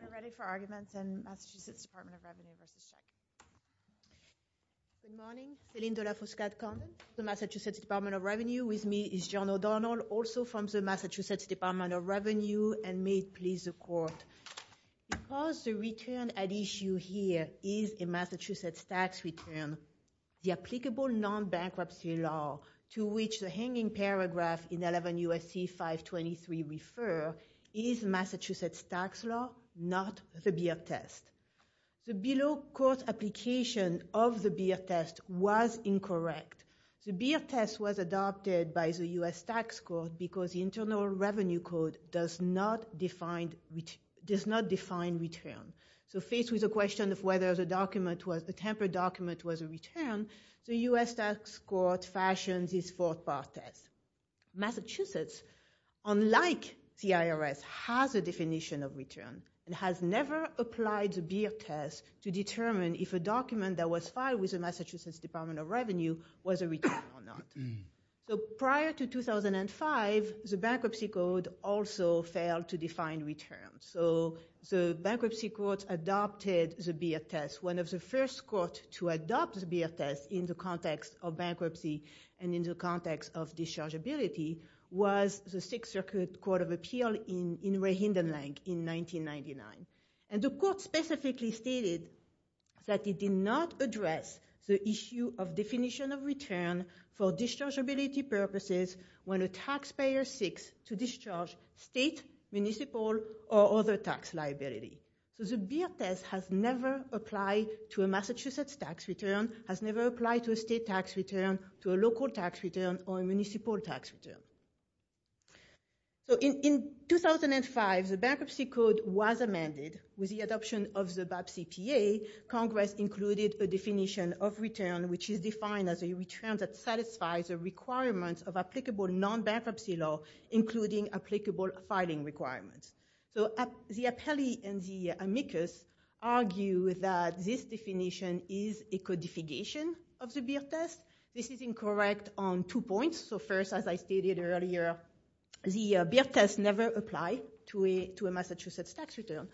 We're ready for arguments in Massachusetts Department of Revenue v. Shek. Good morning. Céline de la Fouscade Condon, the Massachusetts Department of Revenue. With me is John O'Donnell, also from the Massachusetts Department of Revenue, and may it please the Court. Because the return at issue here is a Massachusetts tax return, the applicable non-bankruptcy law to which the hanging paragraph in 11 U.S.C. 523 refers is Massachusetts tax law, not the Beer Test. The below-course application of the Beer Test was incorrect. The Beer Test was adopted by the U.S. Tax Court because the Internal Revenue Code does not define return. So faced with the question of whether the tempered document was a return, the U.S. Tax Court fashioned this fourth-part test. Massachusetts, unlike the IRS, has a definition of return and has never applied the Beer Test to determine if a document that was filed with the Massachusetts Department of Revenue was a return or not. So prior to 2005, the Bankruptcy Code also failed to define return. So the Bankruptcy Court adopted the Beer Test, one of the first courts to adopt the Beer Test in the context of bankruptcy and in the context of dischargeability, was the Sixth Circuit Court of Appeal in Rehindenlang in 1999. And the Court specifically stated that it did not address the issue of definition of return for dischargeability purposes when a taxpayer seeks to discharge state, municipal, or other tax liability. So the Beer Test has never applied to a Massachusetts tax return, has never applied to a state tax return, to a local tax return, or a municipal tax return. So in 2005, the Bankruptcy Code was amended. With the adoption of the BAP CPA, Congress included a definition of return which is defined as a return that satisfies the requirements of applicable non-bankruptcy law, including applicable filing requirements. So the Appellee and the amicus argue that this definition is a codification of the Beer Test. This is incorrect on two points. So first, as I stated earlier, the Beer Test never applied to a Massachusetts tax return.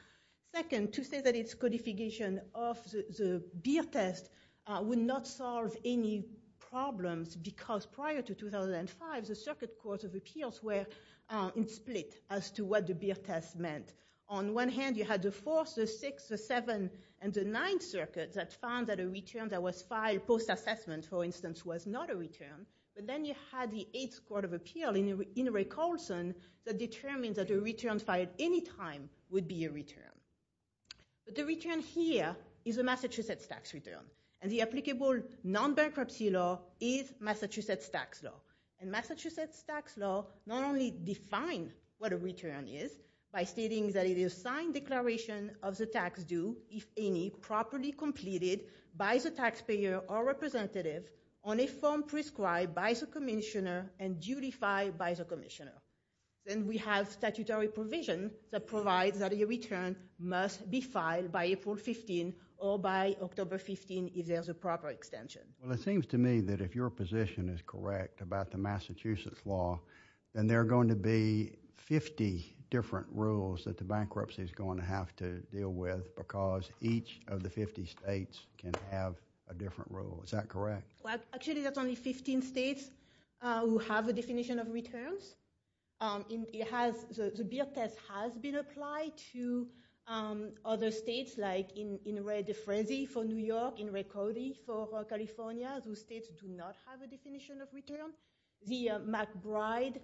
Second, to say that it's codification of the Beer Test would not solve any problems because prior to 2005, the Circuit Court of Appeals were split as to what the Beer Test meant. On one hand, you had the Fourth, the Sixth, the Seventh, and the Ninth Circuit that found that a return that was filed post-assessment, for instance, was not a return. But then you had the Eighth Court of Appeals in Rick Olson that determined that a return filed any time would be a return. But the return here is a Massachusetts tax return. And the applicable non-bankruptcy law is Massachusetts tax law. And Massachusetts tax law not only defines what a return is by stating that it is a signed declaration of the tax due, if any, properly completed by the taxpayer or representative on a form prescribed by the commissioner and dutified by the commissioner. Then we have statutory provision that provides that a return must be filed by April 15 or by October 15 if there's a proper extension. Well, it seems to me that if your position is correct about the Massachusetts law, then there are going to be 50 different rules that the bankruptcy is going to have to deal with because each of the 50 states can have a different rule. Is that correct? Actually, that's only 15 states who have a definition of returns. The Beer Test has been applied to other states, like in Ray De Frenzy for New York, in Ray Cody for California. Those states do not have a definition of return. The McBride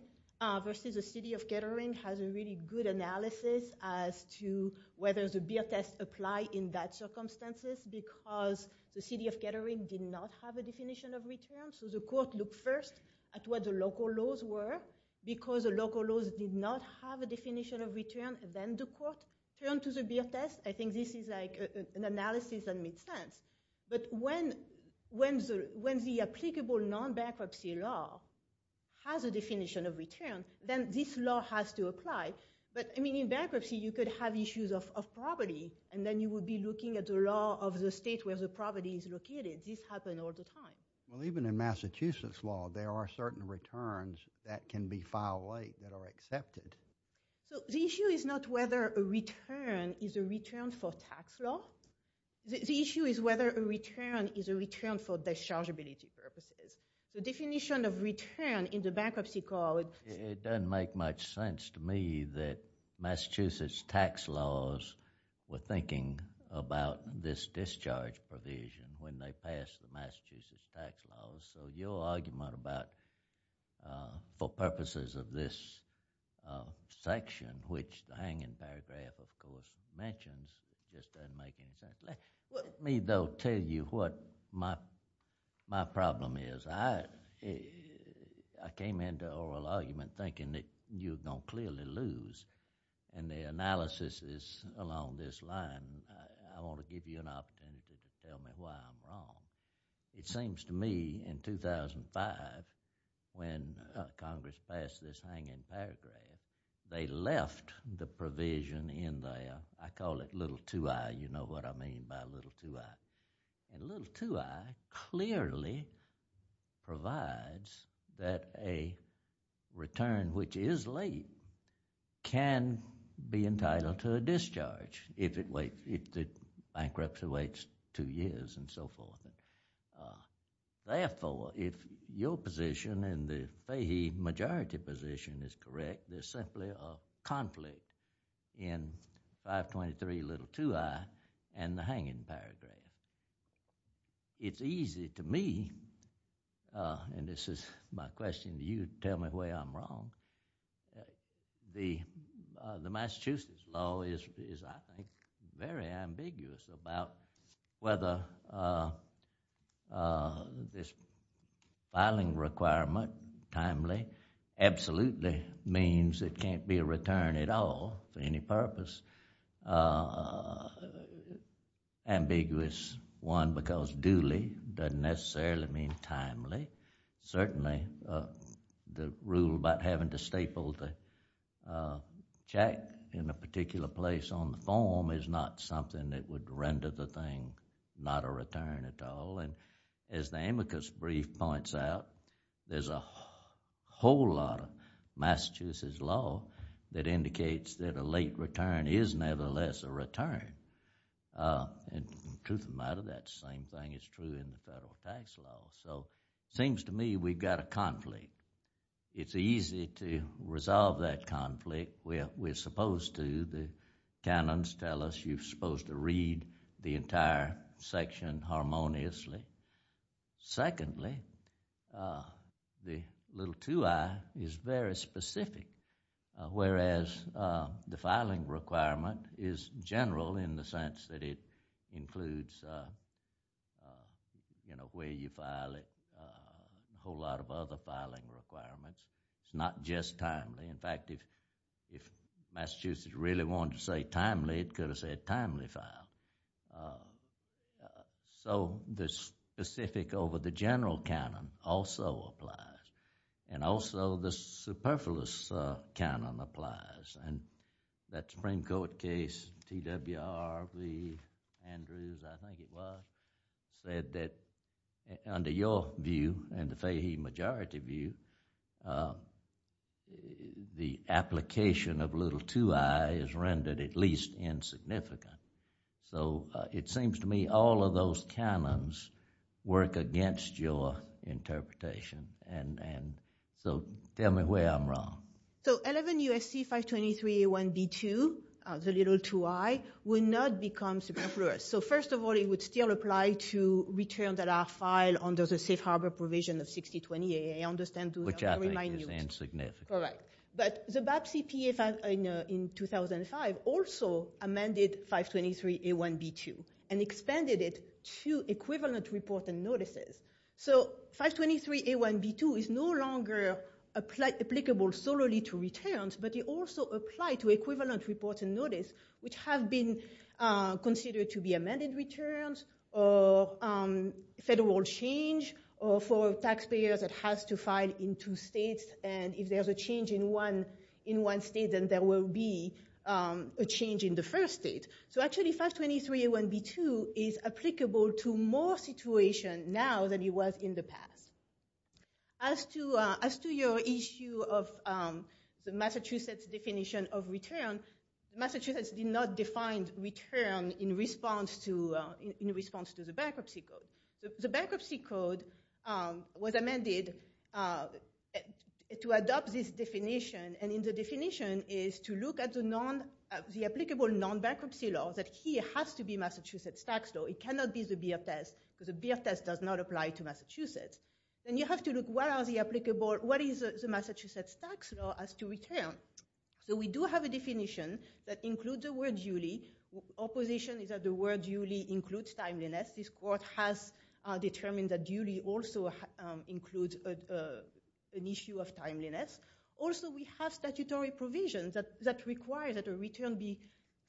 versus the City of Kettering has a really good analysis as to whether the Beer Test apply in that circumstances because the City of Kettering did not have a definition of return. The court looked first at what the local laws were because the local laws did not have a definition of return. Then the court turned to the Beer Test. I think this is an analysis that made sense. But when the applicable non-bankruptcy law has a definition of return, then this law has to apply. But in bankruptcy, you could have issues of property and then you would be looking at the law of the state where the property is located. This happens all the time. Even in Massachusetts law, there are certain returns that can be filed late that are accepted. The issue is not whether a return is a return for tax law. The issue is whether a return is a return for dischargeability purposes. The definition of return in the bankruptcy court— It doesn't make much sense to me that Massachusetts tax laws were thinking about this discharge provision when they passed the Massachusetts tax laws. So your argument about, for purposes of this section, which the hanging paragraph, of course, mentions, just doesn't make any sense. Let me, though, tell you what my problem is. I came into oral argument thinking that you're going to clearly lose, and the analysis is along this line. And I want to give you an opportunity to tell me why I'm wrong. It seems to me, in 2005, when Congress passed this hanging paragraph, they left the provision in the— I call it little too high. You know what I mean by little too high. And little too high clearly provides that a return which is late can be entitled to a discharge if the bankruptcy waits two years and so forth. Therefore, if your position and the Fahy majority position is correct, there's simply a conflict in 523 little too high and the hanging paragraph. It's easy to me— and this is my question to you. Tell me why I'm wrong. The Massachusetts law is, I think, very ambiguous about whether this filing requirement, timely, absolutely means it can't be a return at all for any purpose. It's ambiguous, one, because duly doesn't necessarily mean timely. Certainly, the rule about having to staple the check in a particular place on the form is not something that would render the thing not a return at all. As the amicus brief points out, there's a whole lot of Massachusetts law that indicates that a late return is nevertheless a return. And truth of the matter, that same thing is true in the federal tax law. So it seems to me we've got a conflict. It's easy to resolve that conflict. We're supposed to. The canons tell us you're supposed to read the entire section harmoniously. Secondly, the little 2i is very specific, whereas the filing requirement is general in the sense that it includes where you file it, a whole lot of other filing requirements. It's not just timely. In fact, if Massachusetts really wanted to say timely, it could have said timely file. So the specific over the general canon also applies, and also the superfluous canon applies. And that Supreme Court case, T.W.R. v. Andrews, I think it was, said that under your view and the fahy majority view, the application of little 2i is rendered at least insignificant. So it seems to me all of those canons work against your interpretation. So tell me where I'm wrong. So 11 U.S.C. 523a1b2, the little 2i, would not become superfluous. So first of all, it would still apply to return that our file under the safe harbor provision of 6020a. I understand those are very minute. Which I think is insignificant. All right. But the BAPCP in 2005 also amended 523a1b2 and expanded it to equivalent report and notices. So 523a1b2 is no longer applicable solely to returns, but it also applies to equivalent reports and notices, which have been considered to be amended returns or federal change for taxpayers that has to file in two states. And if there's a change in one state, then there will be a change in the first state. So actually 523a1b2 is applicable to more situations now than it was in the past. As to your issue of the Massachusetts definition of return, Massachusetts did not define return in response to the bankruptcy code. The bankruptcy code was amended to adopt this definition. And the definition is to look at the applicable non-bankruptcy law that here has to be Massachusetts tax law. It cannot be the BFS, because the BFS does not apply to Massachusetts. And you have to look what is the Massachusetts tax law as to return. So we do have a definition that includes the word duly. Opposition is that the word duly includes timeliness. This court has determined that duly also includes an issue of timeliness. Also, we have statutory provisions that require that a return be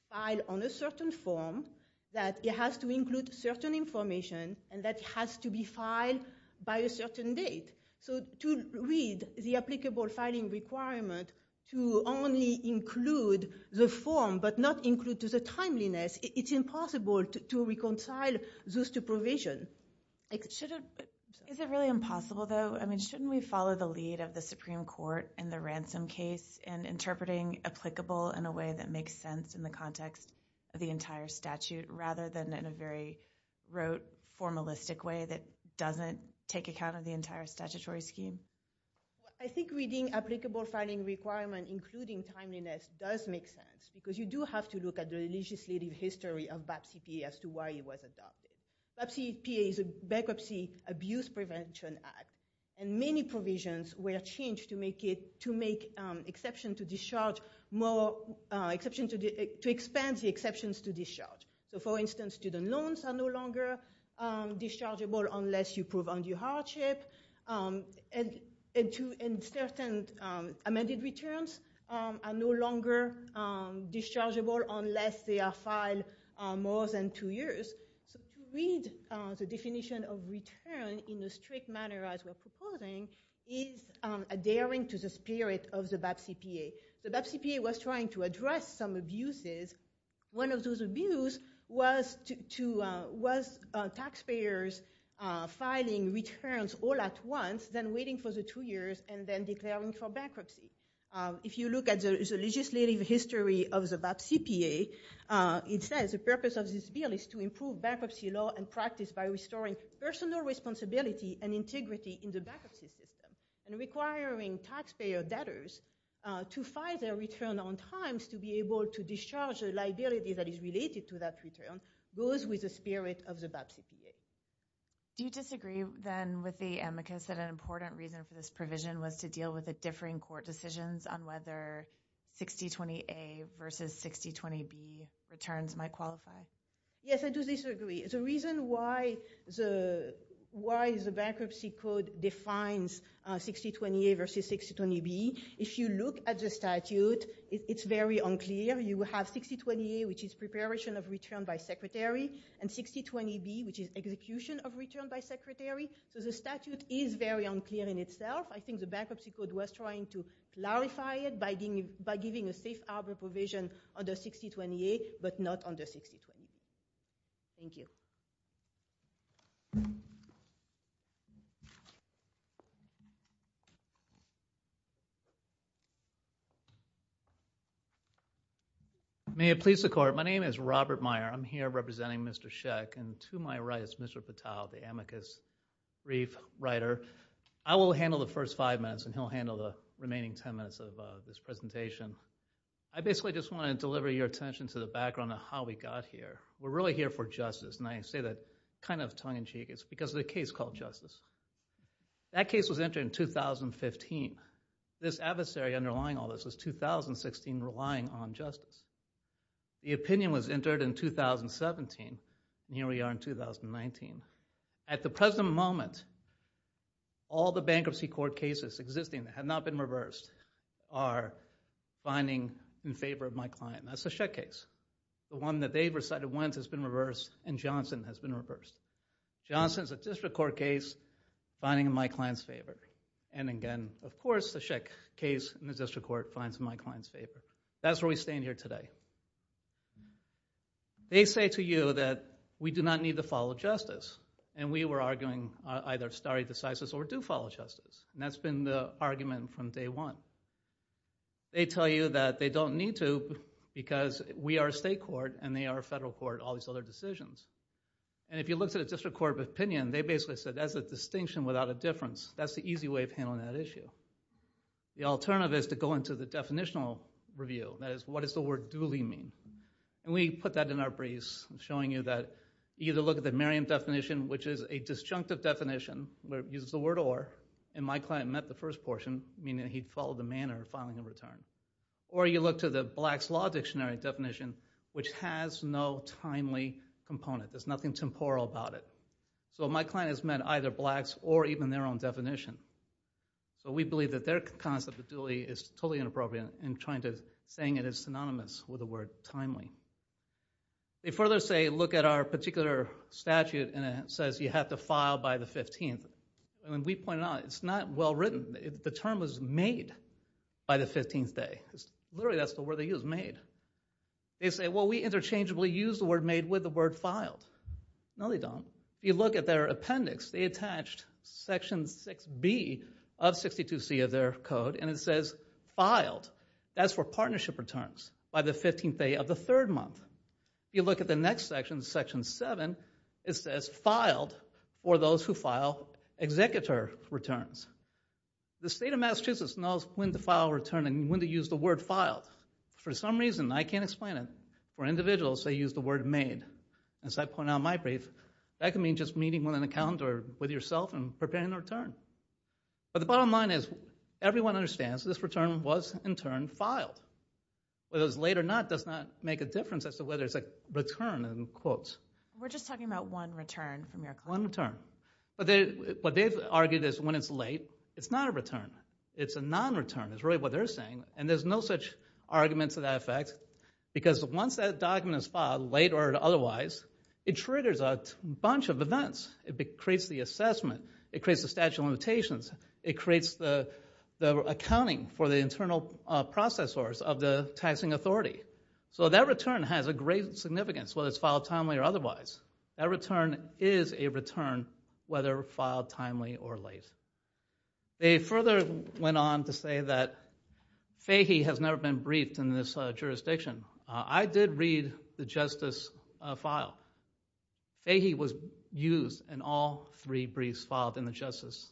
filed on a certain form, that it has to include certain information, and that it has to be filed by a certain date. So to read the applicable filing requirement to only include the form but not include the timeliness, it's impossible to reconcile those two provisions. Is it really impossible, though? Shouldn't we follow the lead of the Supreme Court in the ransom case in interpreting applicable in a way that makes sense in the context of the entire statute rather than in a very rote, formalistic way that doesn't take account of the entire statutory scheme? I think reading applicable filing requirement including timeliness does make sense, because you do have to look at the legislative history of BAPCP as to why it was adopted. BAPCP is a Bankruptcy Abuse Prevention Act, and many provisions were changed to make exception to discharge more... to expand the exceptions to discharge. So, for instance, student loans are no longer dischargeable unless you prove undue hardship, and certain amended returns are no longer dischargeable unless they are filed more than two years. So to read the definition of return in the strict manner as we're proposing is adhering to the spirit of the BAPCPA. The BAPCPA was trying to address some abuses. One of those abuse was to... was taxpayers filing returns all at once, then waiting for the two years, and then declaring for bankruptcy. If you look at the legislative history of the BAPCPA, it says the purpose of this bill is to improve bankruptcy law and practice by restoring personal responsibility and integrity in the bankruptcy system and requiring taxpayer debtors to file their return on times to be able to discharge a liability that is related to that return, goes with the spirit of the BAPCPA. Do you disagree, then, with the amicus that an important reason for this provision was to deal with the differing court decisions on whether 6020A versus 6020B returns might qualify? Yes, I do disagree. The reason why the bankruptcy code defines 6020A versus 6020B, if you look at the statute, it's very unclear. You have 6020A, which is preparation of return by secretary, and 6020B, which is execution of return by secretary. So the statute is very unclear in itself. I think the bankruptcy code was trying to clarify it by giving a safe harbor provision under 6020A, but not under 6020B. Thank you. May it please the court. My name is Robert Meyer. I'm here representing Mr. Sheck, and to my right is Mr. Patel, the amicus brief writer. I will handle the first five minutes, and he'll handle the remaining ten minutes of this presentation. I basically just want to deliver your attention to the background of how we got here. We're really here for justice, and I say that kind of tongue-in-cheek. It's because of a case called Justice. That case was entered in 2015. This adversary underlying all this was 2016, relying on justice. The opinion was entered in 2017, and here we are in 2019. At the present moment, all the bankruptcy court cases existing that have not been reversed are finding in favor of my client. That's the Sheck case. The one that they've recited once has been reversed, and Johnson has been reversed. Johnson's a district court case finding in my client's favor. And again, of course, the Sheck case in the district court finds in my client's favor. That's where we stand here today. They say to you that we do not need to follow justice, and we were arguing either stare decisis or do follow justice, and that's been the argument from day one. They tell you that they don't need to because we are a state court and they are a federal court, all these other decisions. And if you looked at a district court opinion, they basically said that's a distinction without a difference. That's the easy way of handling that issue. The alternative is to go into the definitional review. That is, what does the word duly mean? And we put that in our briefs, showing you that you either look at the Merriam definition, which is a disjunctive definition where it uses the word or, and my client met the first portion, meaning he'd follow the manner of filing a return. Or you look to the Black's Law Dictionary definition, which has no timely component. There's nothing temporal about it. So my client has met either Black's or even their own definition. So we believe that their concept of duly is totally inappropriate in trying to saying it is synonymous with the word timely. They further say, look at our particular statute, and it says you have to file by the 15th. And we pointed out it's not well written. The term was made by the 15th day. Literally, that's the word they use, made. They say, well, we interchangeably use the word made with the word filed. No, they don't. If you look at their appendix, they attached Section 6B of 62C of their code, and it says filed. That's for partnership returns by the 15th day of the third month. If you look at the next section, Section 7, it says filed for those who file executor returns. The state of Massachusetts knows when to file a return and when to use the word filed. For some reason, I can't explain it, but for individuals, they use the word made. As I pointed out in my brief, that can mean just meeting with an accountant or with yourself and preparing a return. But the bottom line is everyone understands this return was, in turn, filed. Whether it was late or not does not make a difference as to whether it's a return in quotes. We're just talking about one return from your client. One return. But what they've argued is when it's late, it's not a return. It's a non-return is really what they're saying, and there's no such argument to that effect because once that document is filed, late or otherwise, it triggers a bunch of events. It creates the assessment. It creates the statute of limitations. It creates the accounting for the internal processors of the taxing authority. So that return has a great significance, whether it's filed timely or otherwise. That return is a return, whether filed timely or late. They further went on to say that Fahy has never been briefed in this jurisdiction. I did read the Justice file. Fahy was used in all three briefs filed in the Justice.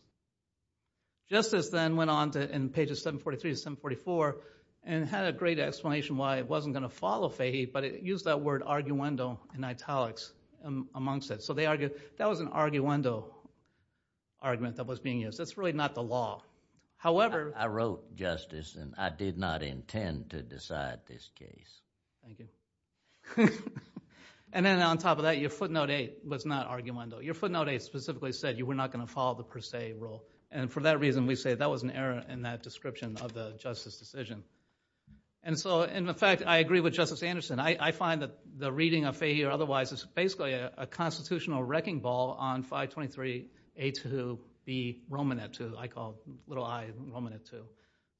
Justice then went on in pages 743 to 744 and had a great explanation why it wasn't going to follow Fahy, but it used that word arguendo in italics amongst it. So that was an arguendo argument that was being used. That's really not the law. I wrote Justice, and I did not intend to decide this case. Thank you. And then on top of that, your footnote 8 was not arguendo. Your footnote 8 specifically said you were not going to follow the per se rule, and for that reason we say that was an error in that description of the Justice decision. And so, in effect, I agree with Justice Anderson. I find that the reading of Fahy or otherwise is basically a constitutional wrecking ball on 523A2B Romanet 2. I call it little I Romanet 2.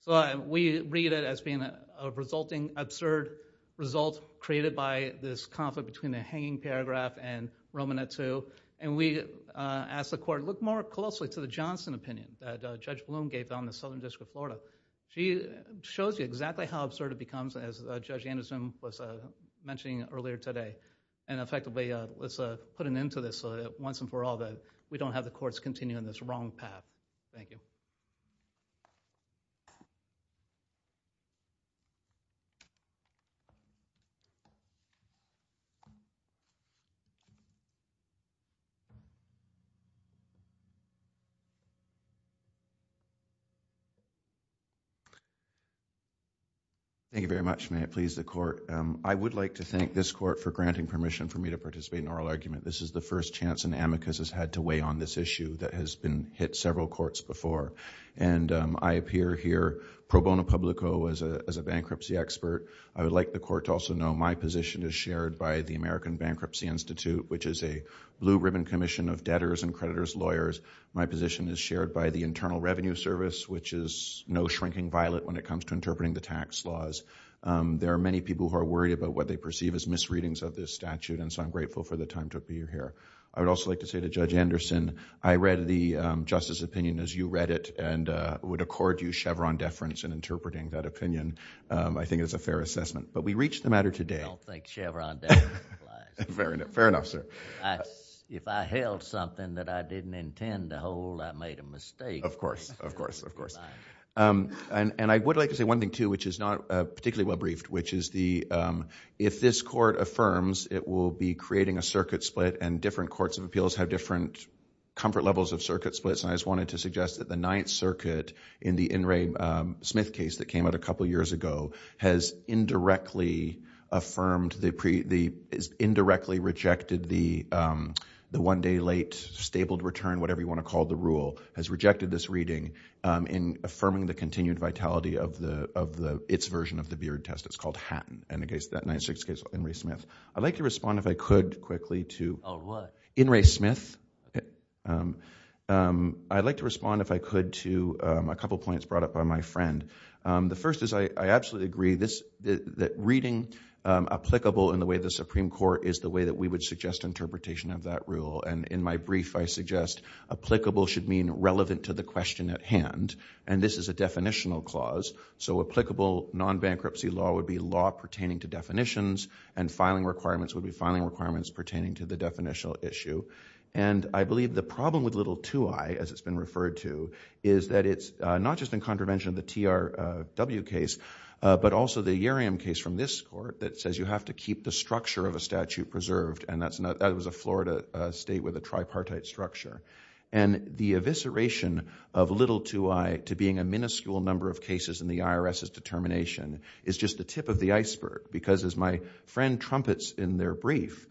So we read it as being a resulting absurd result created by this conflict between the hanging paragraph and Romanet 2, and we asked the court, look more closely to the Johnson opinion that Judge Bloom gave on the Southern District of Florida. She shows you exactly how absurd it becomes, as Judge Anderson was mentioning earlier today, and effectively, let's put an end to this once and for all that we don't have the courts continuing this wrong path. Thank you. Thank you very much. May it please the court. I would like to thank this court for granting permission for me to participate in oral argument. This is the first chance an amicus has had to weigh on this issue that has been hit several courts before, and I appear here pro bono publico as a bankruptcy expert. I would like the court to also know my position is shared by the American Bankruptcy Institute, which is a blue-ribbon commission of debtors and creditors' lawyers. My position is shared by the Internal Revenue Service, which is no shrinking violet when it comes to interpreting the tax laws. There are many people who are worried about what they perceive as misreadings of this statute, and so I'm grateful for the time to appear here. I would also like to say to Judge Anderson, I read the justice opinion as you read it, and would accord you Chevron deference in interpreting that opinion. I think it's a fair assessment, but we reached the matter today. I don't think Chevron deference applies. Fair enough, sir. If I held something that I didn't intend to hold, I made a mistake. Of course, of course, of course. And I would like to say one thing, too, which is not particularly well-briefed, which is if this court affirms, it will be creating a circuit split, and different courts of appeals have different comfort levels of circuit splits, and I just wanted to suggest that the Ninth Circuit in the In re Smith case that came out a couple of years ago has indirectly affirmed, has indirectly rejected the one-day-late-stabled-return, whatever you want to call the rule, has rejected this reading in affirming the continued vitality of its version of the Beard Test. It's called Hatton, and the Ninth Circuit's case, In re Smith. I'd like to respond, if I could, quickly to... In re Smith. I'd like to respond, if I could, to a couple of points brought up by my friend. The first is I absolutely agree that reading applicable in the way the Supreme Court is the way that we would suggest interpretation of that rule, and in my brief, I suggest applicable should mean relevant to the question at hand, and this is a definitional clause, so applicable non-bankruptcy law would be law pertaining to definitions, and filing requirements would be filing requirements pertaining to the definitional issue, and I believe the problem with little 2i, as it's been referred to, is that it's not just in contravention of the TRW case, but also the Uriam case from this court that says you have to keep the structure of a statute preserved, and that was a Florida state with a tripartite structure, and the evisceration of little 2i to being a minuscule number of cases in the IRS's determination is just the tip of the iceberg, because as my friend trumpets in their brief,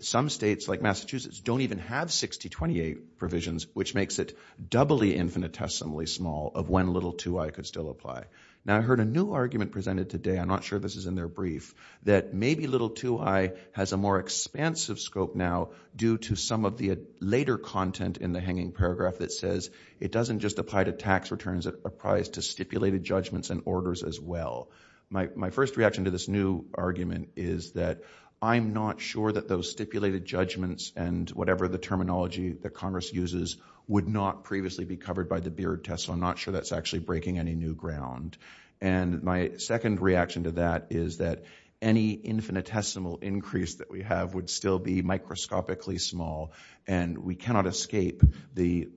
some states, like Massachusetts, don't even have 6028 provisions, which makes it doubly infinitesimally small of when little 2i could still apply. Now, I heard a new argument presented today, I'm not sure this is in their brief, that maybe little 2i has a more expansive scope now due to some of the later content in the hanging paragraph that says it doesn't just apply to tax returns, it applies to stipulated judgments and orders as well. My first reaction to this new argument is that I'm not sure that those stipulated judgments and whatever the terminology that Congress uses would not previously be covered by the Beard test, so I'm not sure that's actually breaking any new ground. And my second reaction to that is that any infinitesimal increase that we have would still be microscopically small, and we cannot escape the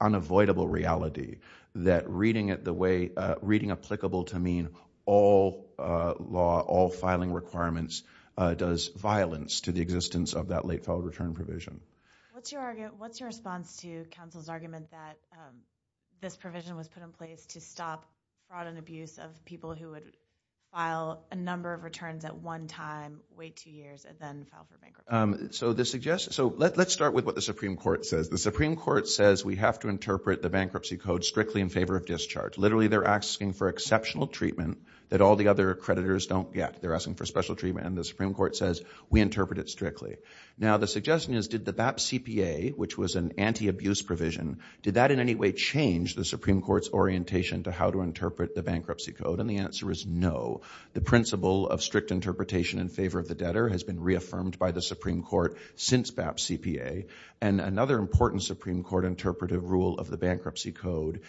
unavoidable reality that reading applicable to mean all law, all filing requirements, does violence to the existence of that late-filed return provision. What's your response to counsel's argument that this provision was put in place to stop fraud and abuse of people who would file a number of returns at one time, wait two years, and then file for bankruptcy? So let's start with what the Supreme Court says. The Supreme Court says we have to interpret the Bankruptcy Code strictly in favor of discharge. Literally, they're asking for exceptional treatment that all the other creditors don't get. They're asking for special treatment, and the Supreme Court says we interpret it strictly. Now, the suggestion is, did the BAP CPA, which was an anti-abuse provision, did that in any way change the Supreme Court's orientation to how to interpret the Bankruptcy Code? And the answer is no. The principle of strict interpretation in favor of the debtor has been reaffirmed by the Supreme Court since BAP CPA. And another important Supreme Court interpretive rule of the Bankruptcy Code,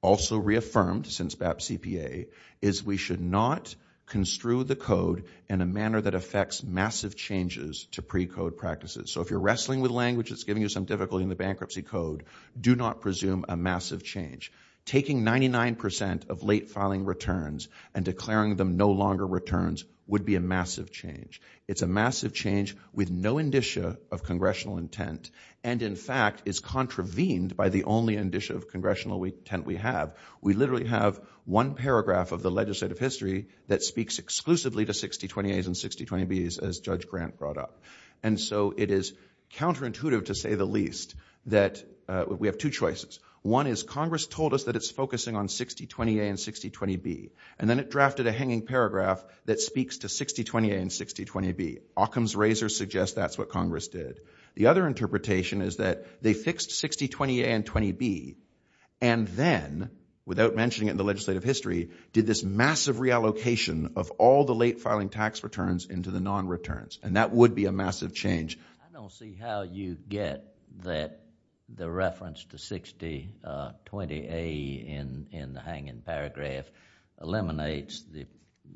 also reaffirmed since BAP CPA, is we should not construe the code in a manner that affects massive changes to precode practices. So if you're wrestling with language that's giving you some difficulty in the Bankruptcy Code, do not presume a massive change. Taking 99% of late-filing returns and declaring them no-longer returns would be a massive change. It's a massive change with no indicia of congressional intent and, in fact, is contravened by the only indicia of congressional intent we have. We literally have one paragraph of the legislative history that speaks exclusively to 6020As and 6020Bs, as Judge Grant brought up. And so it is counterintuitive, to say the least, that we have two choices. One is Congress told us that it's focusing on 6020A and 6020B, and then it drafted a hanging paragraph that speaks to 6020A and 6020B. Occam's razor suggests that's what Congress did. The other interpretation is that they fixed 6020A and 6020B and then, without mentioning it in the legislative history, did this massive reallocation of all the late-filing tax returns into the non-returns, and that would be a massive change. I don't see how you get that the reference to 6020A in the hanging paragraph eliminates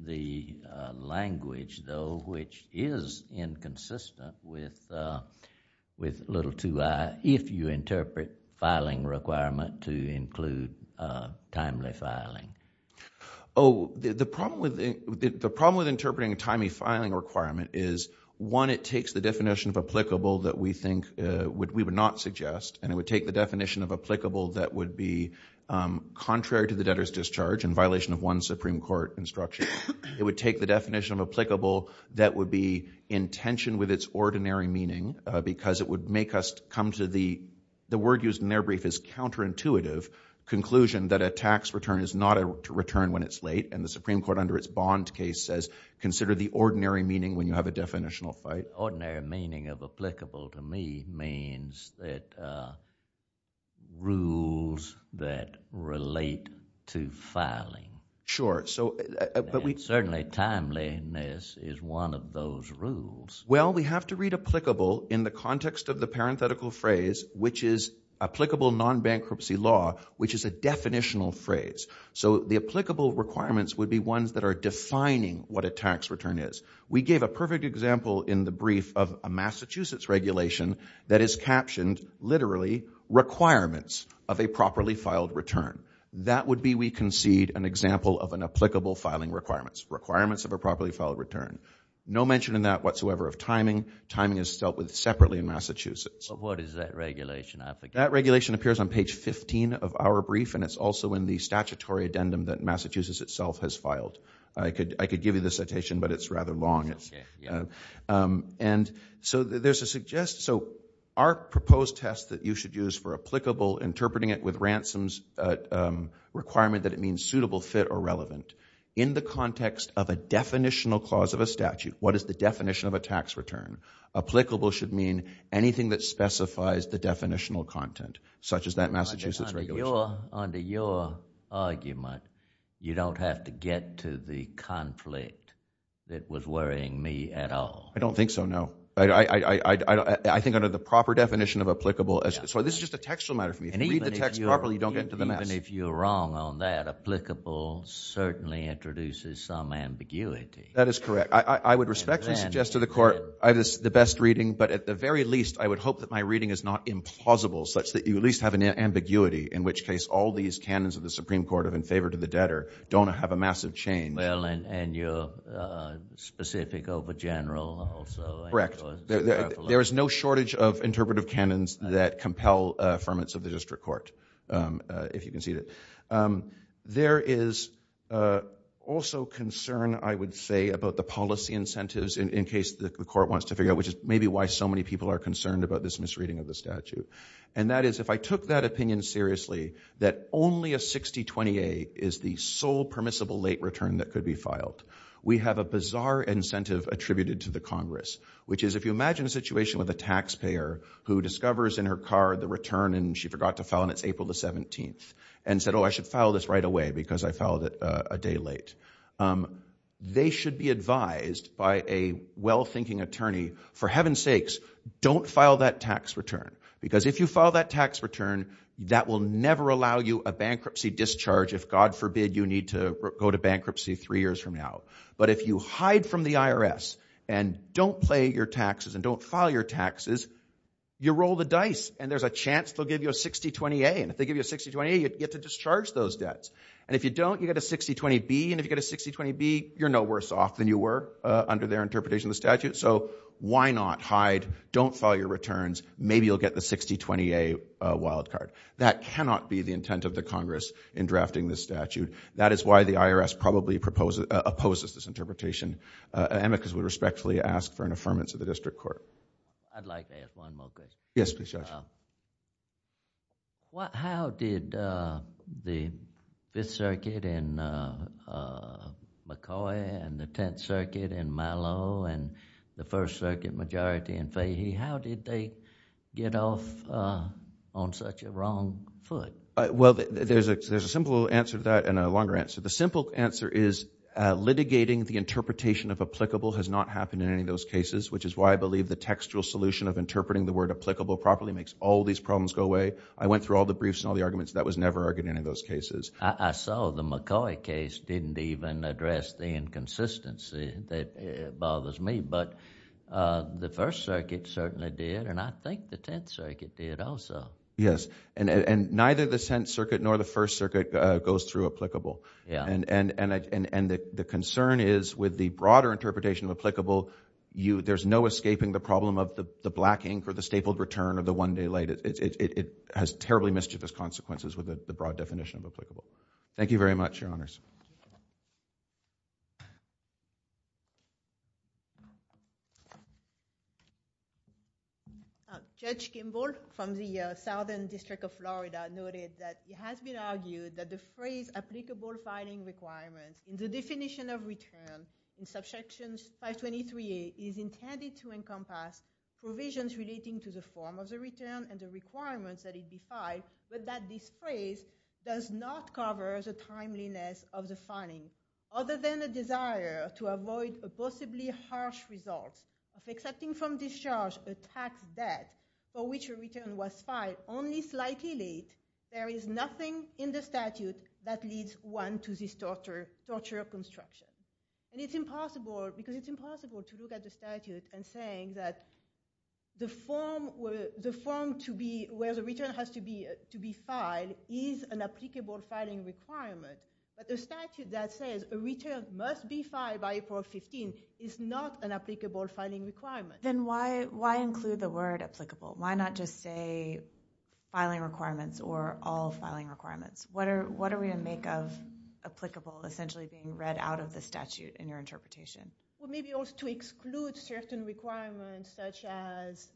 the language, though, which is inconsistent with little 2i if you interpret filing requirement to include timely filing. Oh, the problem with interpreting a timely filing requirement is, one, it takes the definition of applicable that we think we would not suggest, and it would take the definition of applicable that would be contrary to the debtor's discharge in violation of one Supreme Court instruction. It would take the definition of applicable that would be in tension with its ordinary meaning because it would make us come to the... The word used in their brief is counterintuitive conclusion that a tax return is not a return when it's late, and the Supreme Court, under its Bond case, says consider the ordinary meaning when you have a definitional fight. The ordinary meaning of applicable to me means that rules that relate to filing. Sure, so... Certainly timeliness is one of those rules. Well, we have to read applicable in the context of the parenthetical phrase, which is applicable non-bankruptcy law, which is a definitional phrase. So the applicable requirements would be ones that are defining what a tax return is. We gave a perfect example in the brief of a Massachusetts regulation that is captioned literally requirements of a properly filed return. That would be, we concede, an example of an applicable filing requirements, requirements of a properly filed return. No mention in that whatsoever of timing. Timing is dealt with separately in Massachusetts. But what is that regulation, I forget. That regulation appears on page 15 of our brief, and it's also in the statutory addendum that Massachusetts itself has filed. I could give you the citation, but it's rather long. And so there's a suggestion. So our proposed test that you should use for applicable, interpreting it with ransoms, requirement that it means suitable, fit, or relevant. In the context of a definitional clause of a statute, what is the definition of a tax return? Applicable should mean anything that specifies the definitional content, such as that Massachusetts regulation. Under your argument, you don't have to get to the conflict that was worrying me at all. I don't think so, no. I think under the proper definition of applicable... So this is just a textual matter for me. If you read the text properly, you don't get into the mess. Even if you're wrong on that, applicable certainly introduces some ambiguity. That is correct. I would respectfully suggest to the Court, I have the best reading, but at the very least, I would hope that my reading is not implausible, such that you at least have an ambiguity, in which case all these canons of the Supreme Court of in favor to the debtor don't have a massive change. Well, and you're specific over general also. Correct. There is no shortage of interpretive canons that compel affirmance of the District Court, if you can see that. There is also concern, I would say, about the policy incentives, in case the Court wants to figure out, which is maybe why so many people are concerned about this misreading of the statute. And that is, if I took that opinion seriously, that only a 6028 is the sole permissible late return that could be filed. We have a bizarre incentive attributed to the Congress, which is, if you imagine a situation with a taxpayer who discovers in her car the return and she forgot to file and it's April the 17th, and said, oh, I should file this right away because I filed it a day late. They should be advised by a well-thinking attorney, for heaven's sakes, don't file that tax return. Because if you file that tax return, that will never allow you a bankruptcy discharge if, God forbid, you need to go to bankruptcy three years from now. But if you hide from the IRS and don't pay your taxes and don't file your taxes, you roll the dice, and there's a chance they'll give you a 6028, and if they give you a 6028, you get to discharge those debts. And if you don't, you get a 6020-B, and if you get a 6020-B, you're no worse off than you were under their interpretation of the statute. So why not hide, don't file your returns, maybe you'll get the 6020-A wild card. That cannot be the intent of the Congress in drafting this statute. That is why the IRS probably opposes this interpretation. Amicus would respectfully ask for an affirmance of the District Court. I'd like to ask one more question. Yes, please, Judge. How did the Fifth Circuit in McCoy and the Tenth Circuit in Milo and the First Circuit majority in Fahey, how did they get off on such a wrong foot? Well, there's a simple answer to that and a longer answer. The simple answer is litigating the interpretation of applicable has not happened in any of those cases, which is why I believe the textual solution of interpreting the word applicable properly makes all these problems go away. I went through all the briefs and all the arguments. That was never argued in any of those cases. I saw the McCoy case didn't even address the inconsistency that bothers me, but the First Circuit certainly did, and I think the Tenth Circuit did also. Yes, and neither the Tenth Circuit nor the First Circuit goes through applicable. And the concern is with the broader interpretation of applicable, there's no escaping the problem of the black ink or the stapled return or the one day late. It has terribly mischievous consequences with the broad definition of applicable. Thank you very much, Your Honors. Judge Kimball from the Southern District of Florida noted that it has been argued that the phrase applicable filing requirements in the definition of return in Subsection 523A is intended to encompass provisions relating to the form of the return and the requirements that it be filed, but that this phrase does not cover the timeliness of the filing, other than a desire to avoid the possibility of harsh results of accepting from discharge a tax debt for which a return was filed only slightly late, there is nothing in the statute that leads one to this torture of construction. And it's impossible, because it's impossible to look at the statute and saying that the form where the return has to be filed is an applicable filing requirement, but the statute that says a return must be filed by April 15th is not an applicable filing requirement. Then why include the word applicable? Why not just say filing requirements or all filing requirements? What are we to make of applicable essentially being read out of the statute in your interpretation? Well, maybe also to exclude certain requirements such as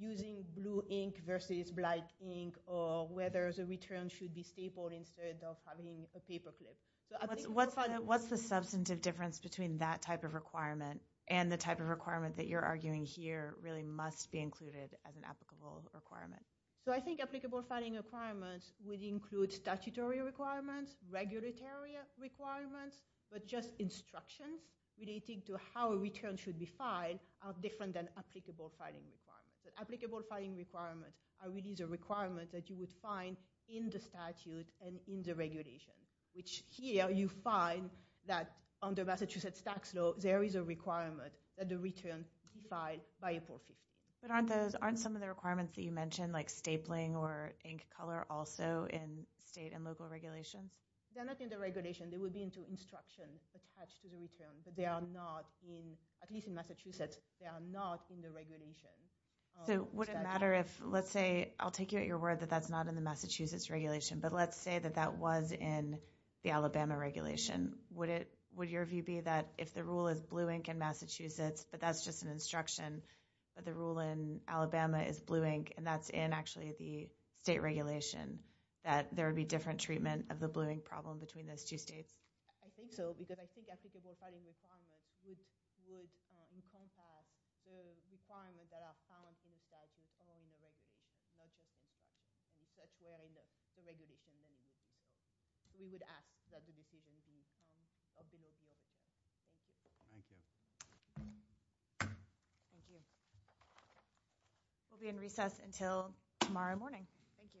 using blue ink versus black ink or whether the return should be stapled instead of having a paper clip. What's the substantive difference between that type of requirement and the type of requirement that you're arguing here really must be included as an applicable requirement? So I think applicable filing requirements would include statutory requirements, regulatory requirements, but just instructions relating to how a return should be filed are different than applicable filing requirements. But applicable filing requirements are really the requirements that you would find in the statute and in the regulation, which here you find that under Massachusetts tax law there is a requirement that the return be filed by April 15th. But aren't some of the requirements that you mentioned like stapling or ink color also in state and local regulations? They're not in the regulation. They would be into instructions attached to the return, but they are not in, at least in Massachusetts, they are not in the regulation. So would it matter if, let's say, I'll take you at your word that that's not in the Massachusetts regulation, but let's say that that was in the Alabama regulation, would your view be that if the rule is blue ink in Massachusetts, but that's just an instruction, but the rule in Alabama is blue ink and that's in actually the state regulation, that there would be different treatment of the blue ink problem between those two states? I think so, because I think applicable filing requirements would encompass the requirements that are found in the statute, and that's where the regulation would be. We would ask that the decision be made at the time of the meeting. Thank you. Thank you. We'll be in recess until tomorrow morning. Thank you. Bye-bye. Bye-bye.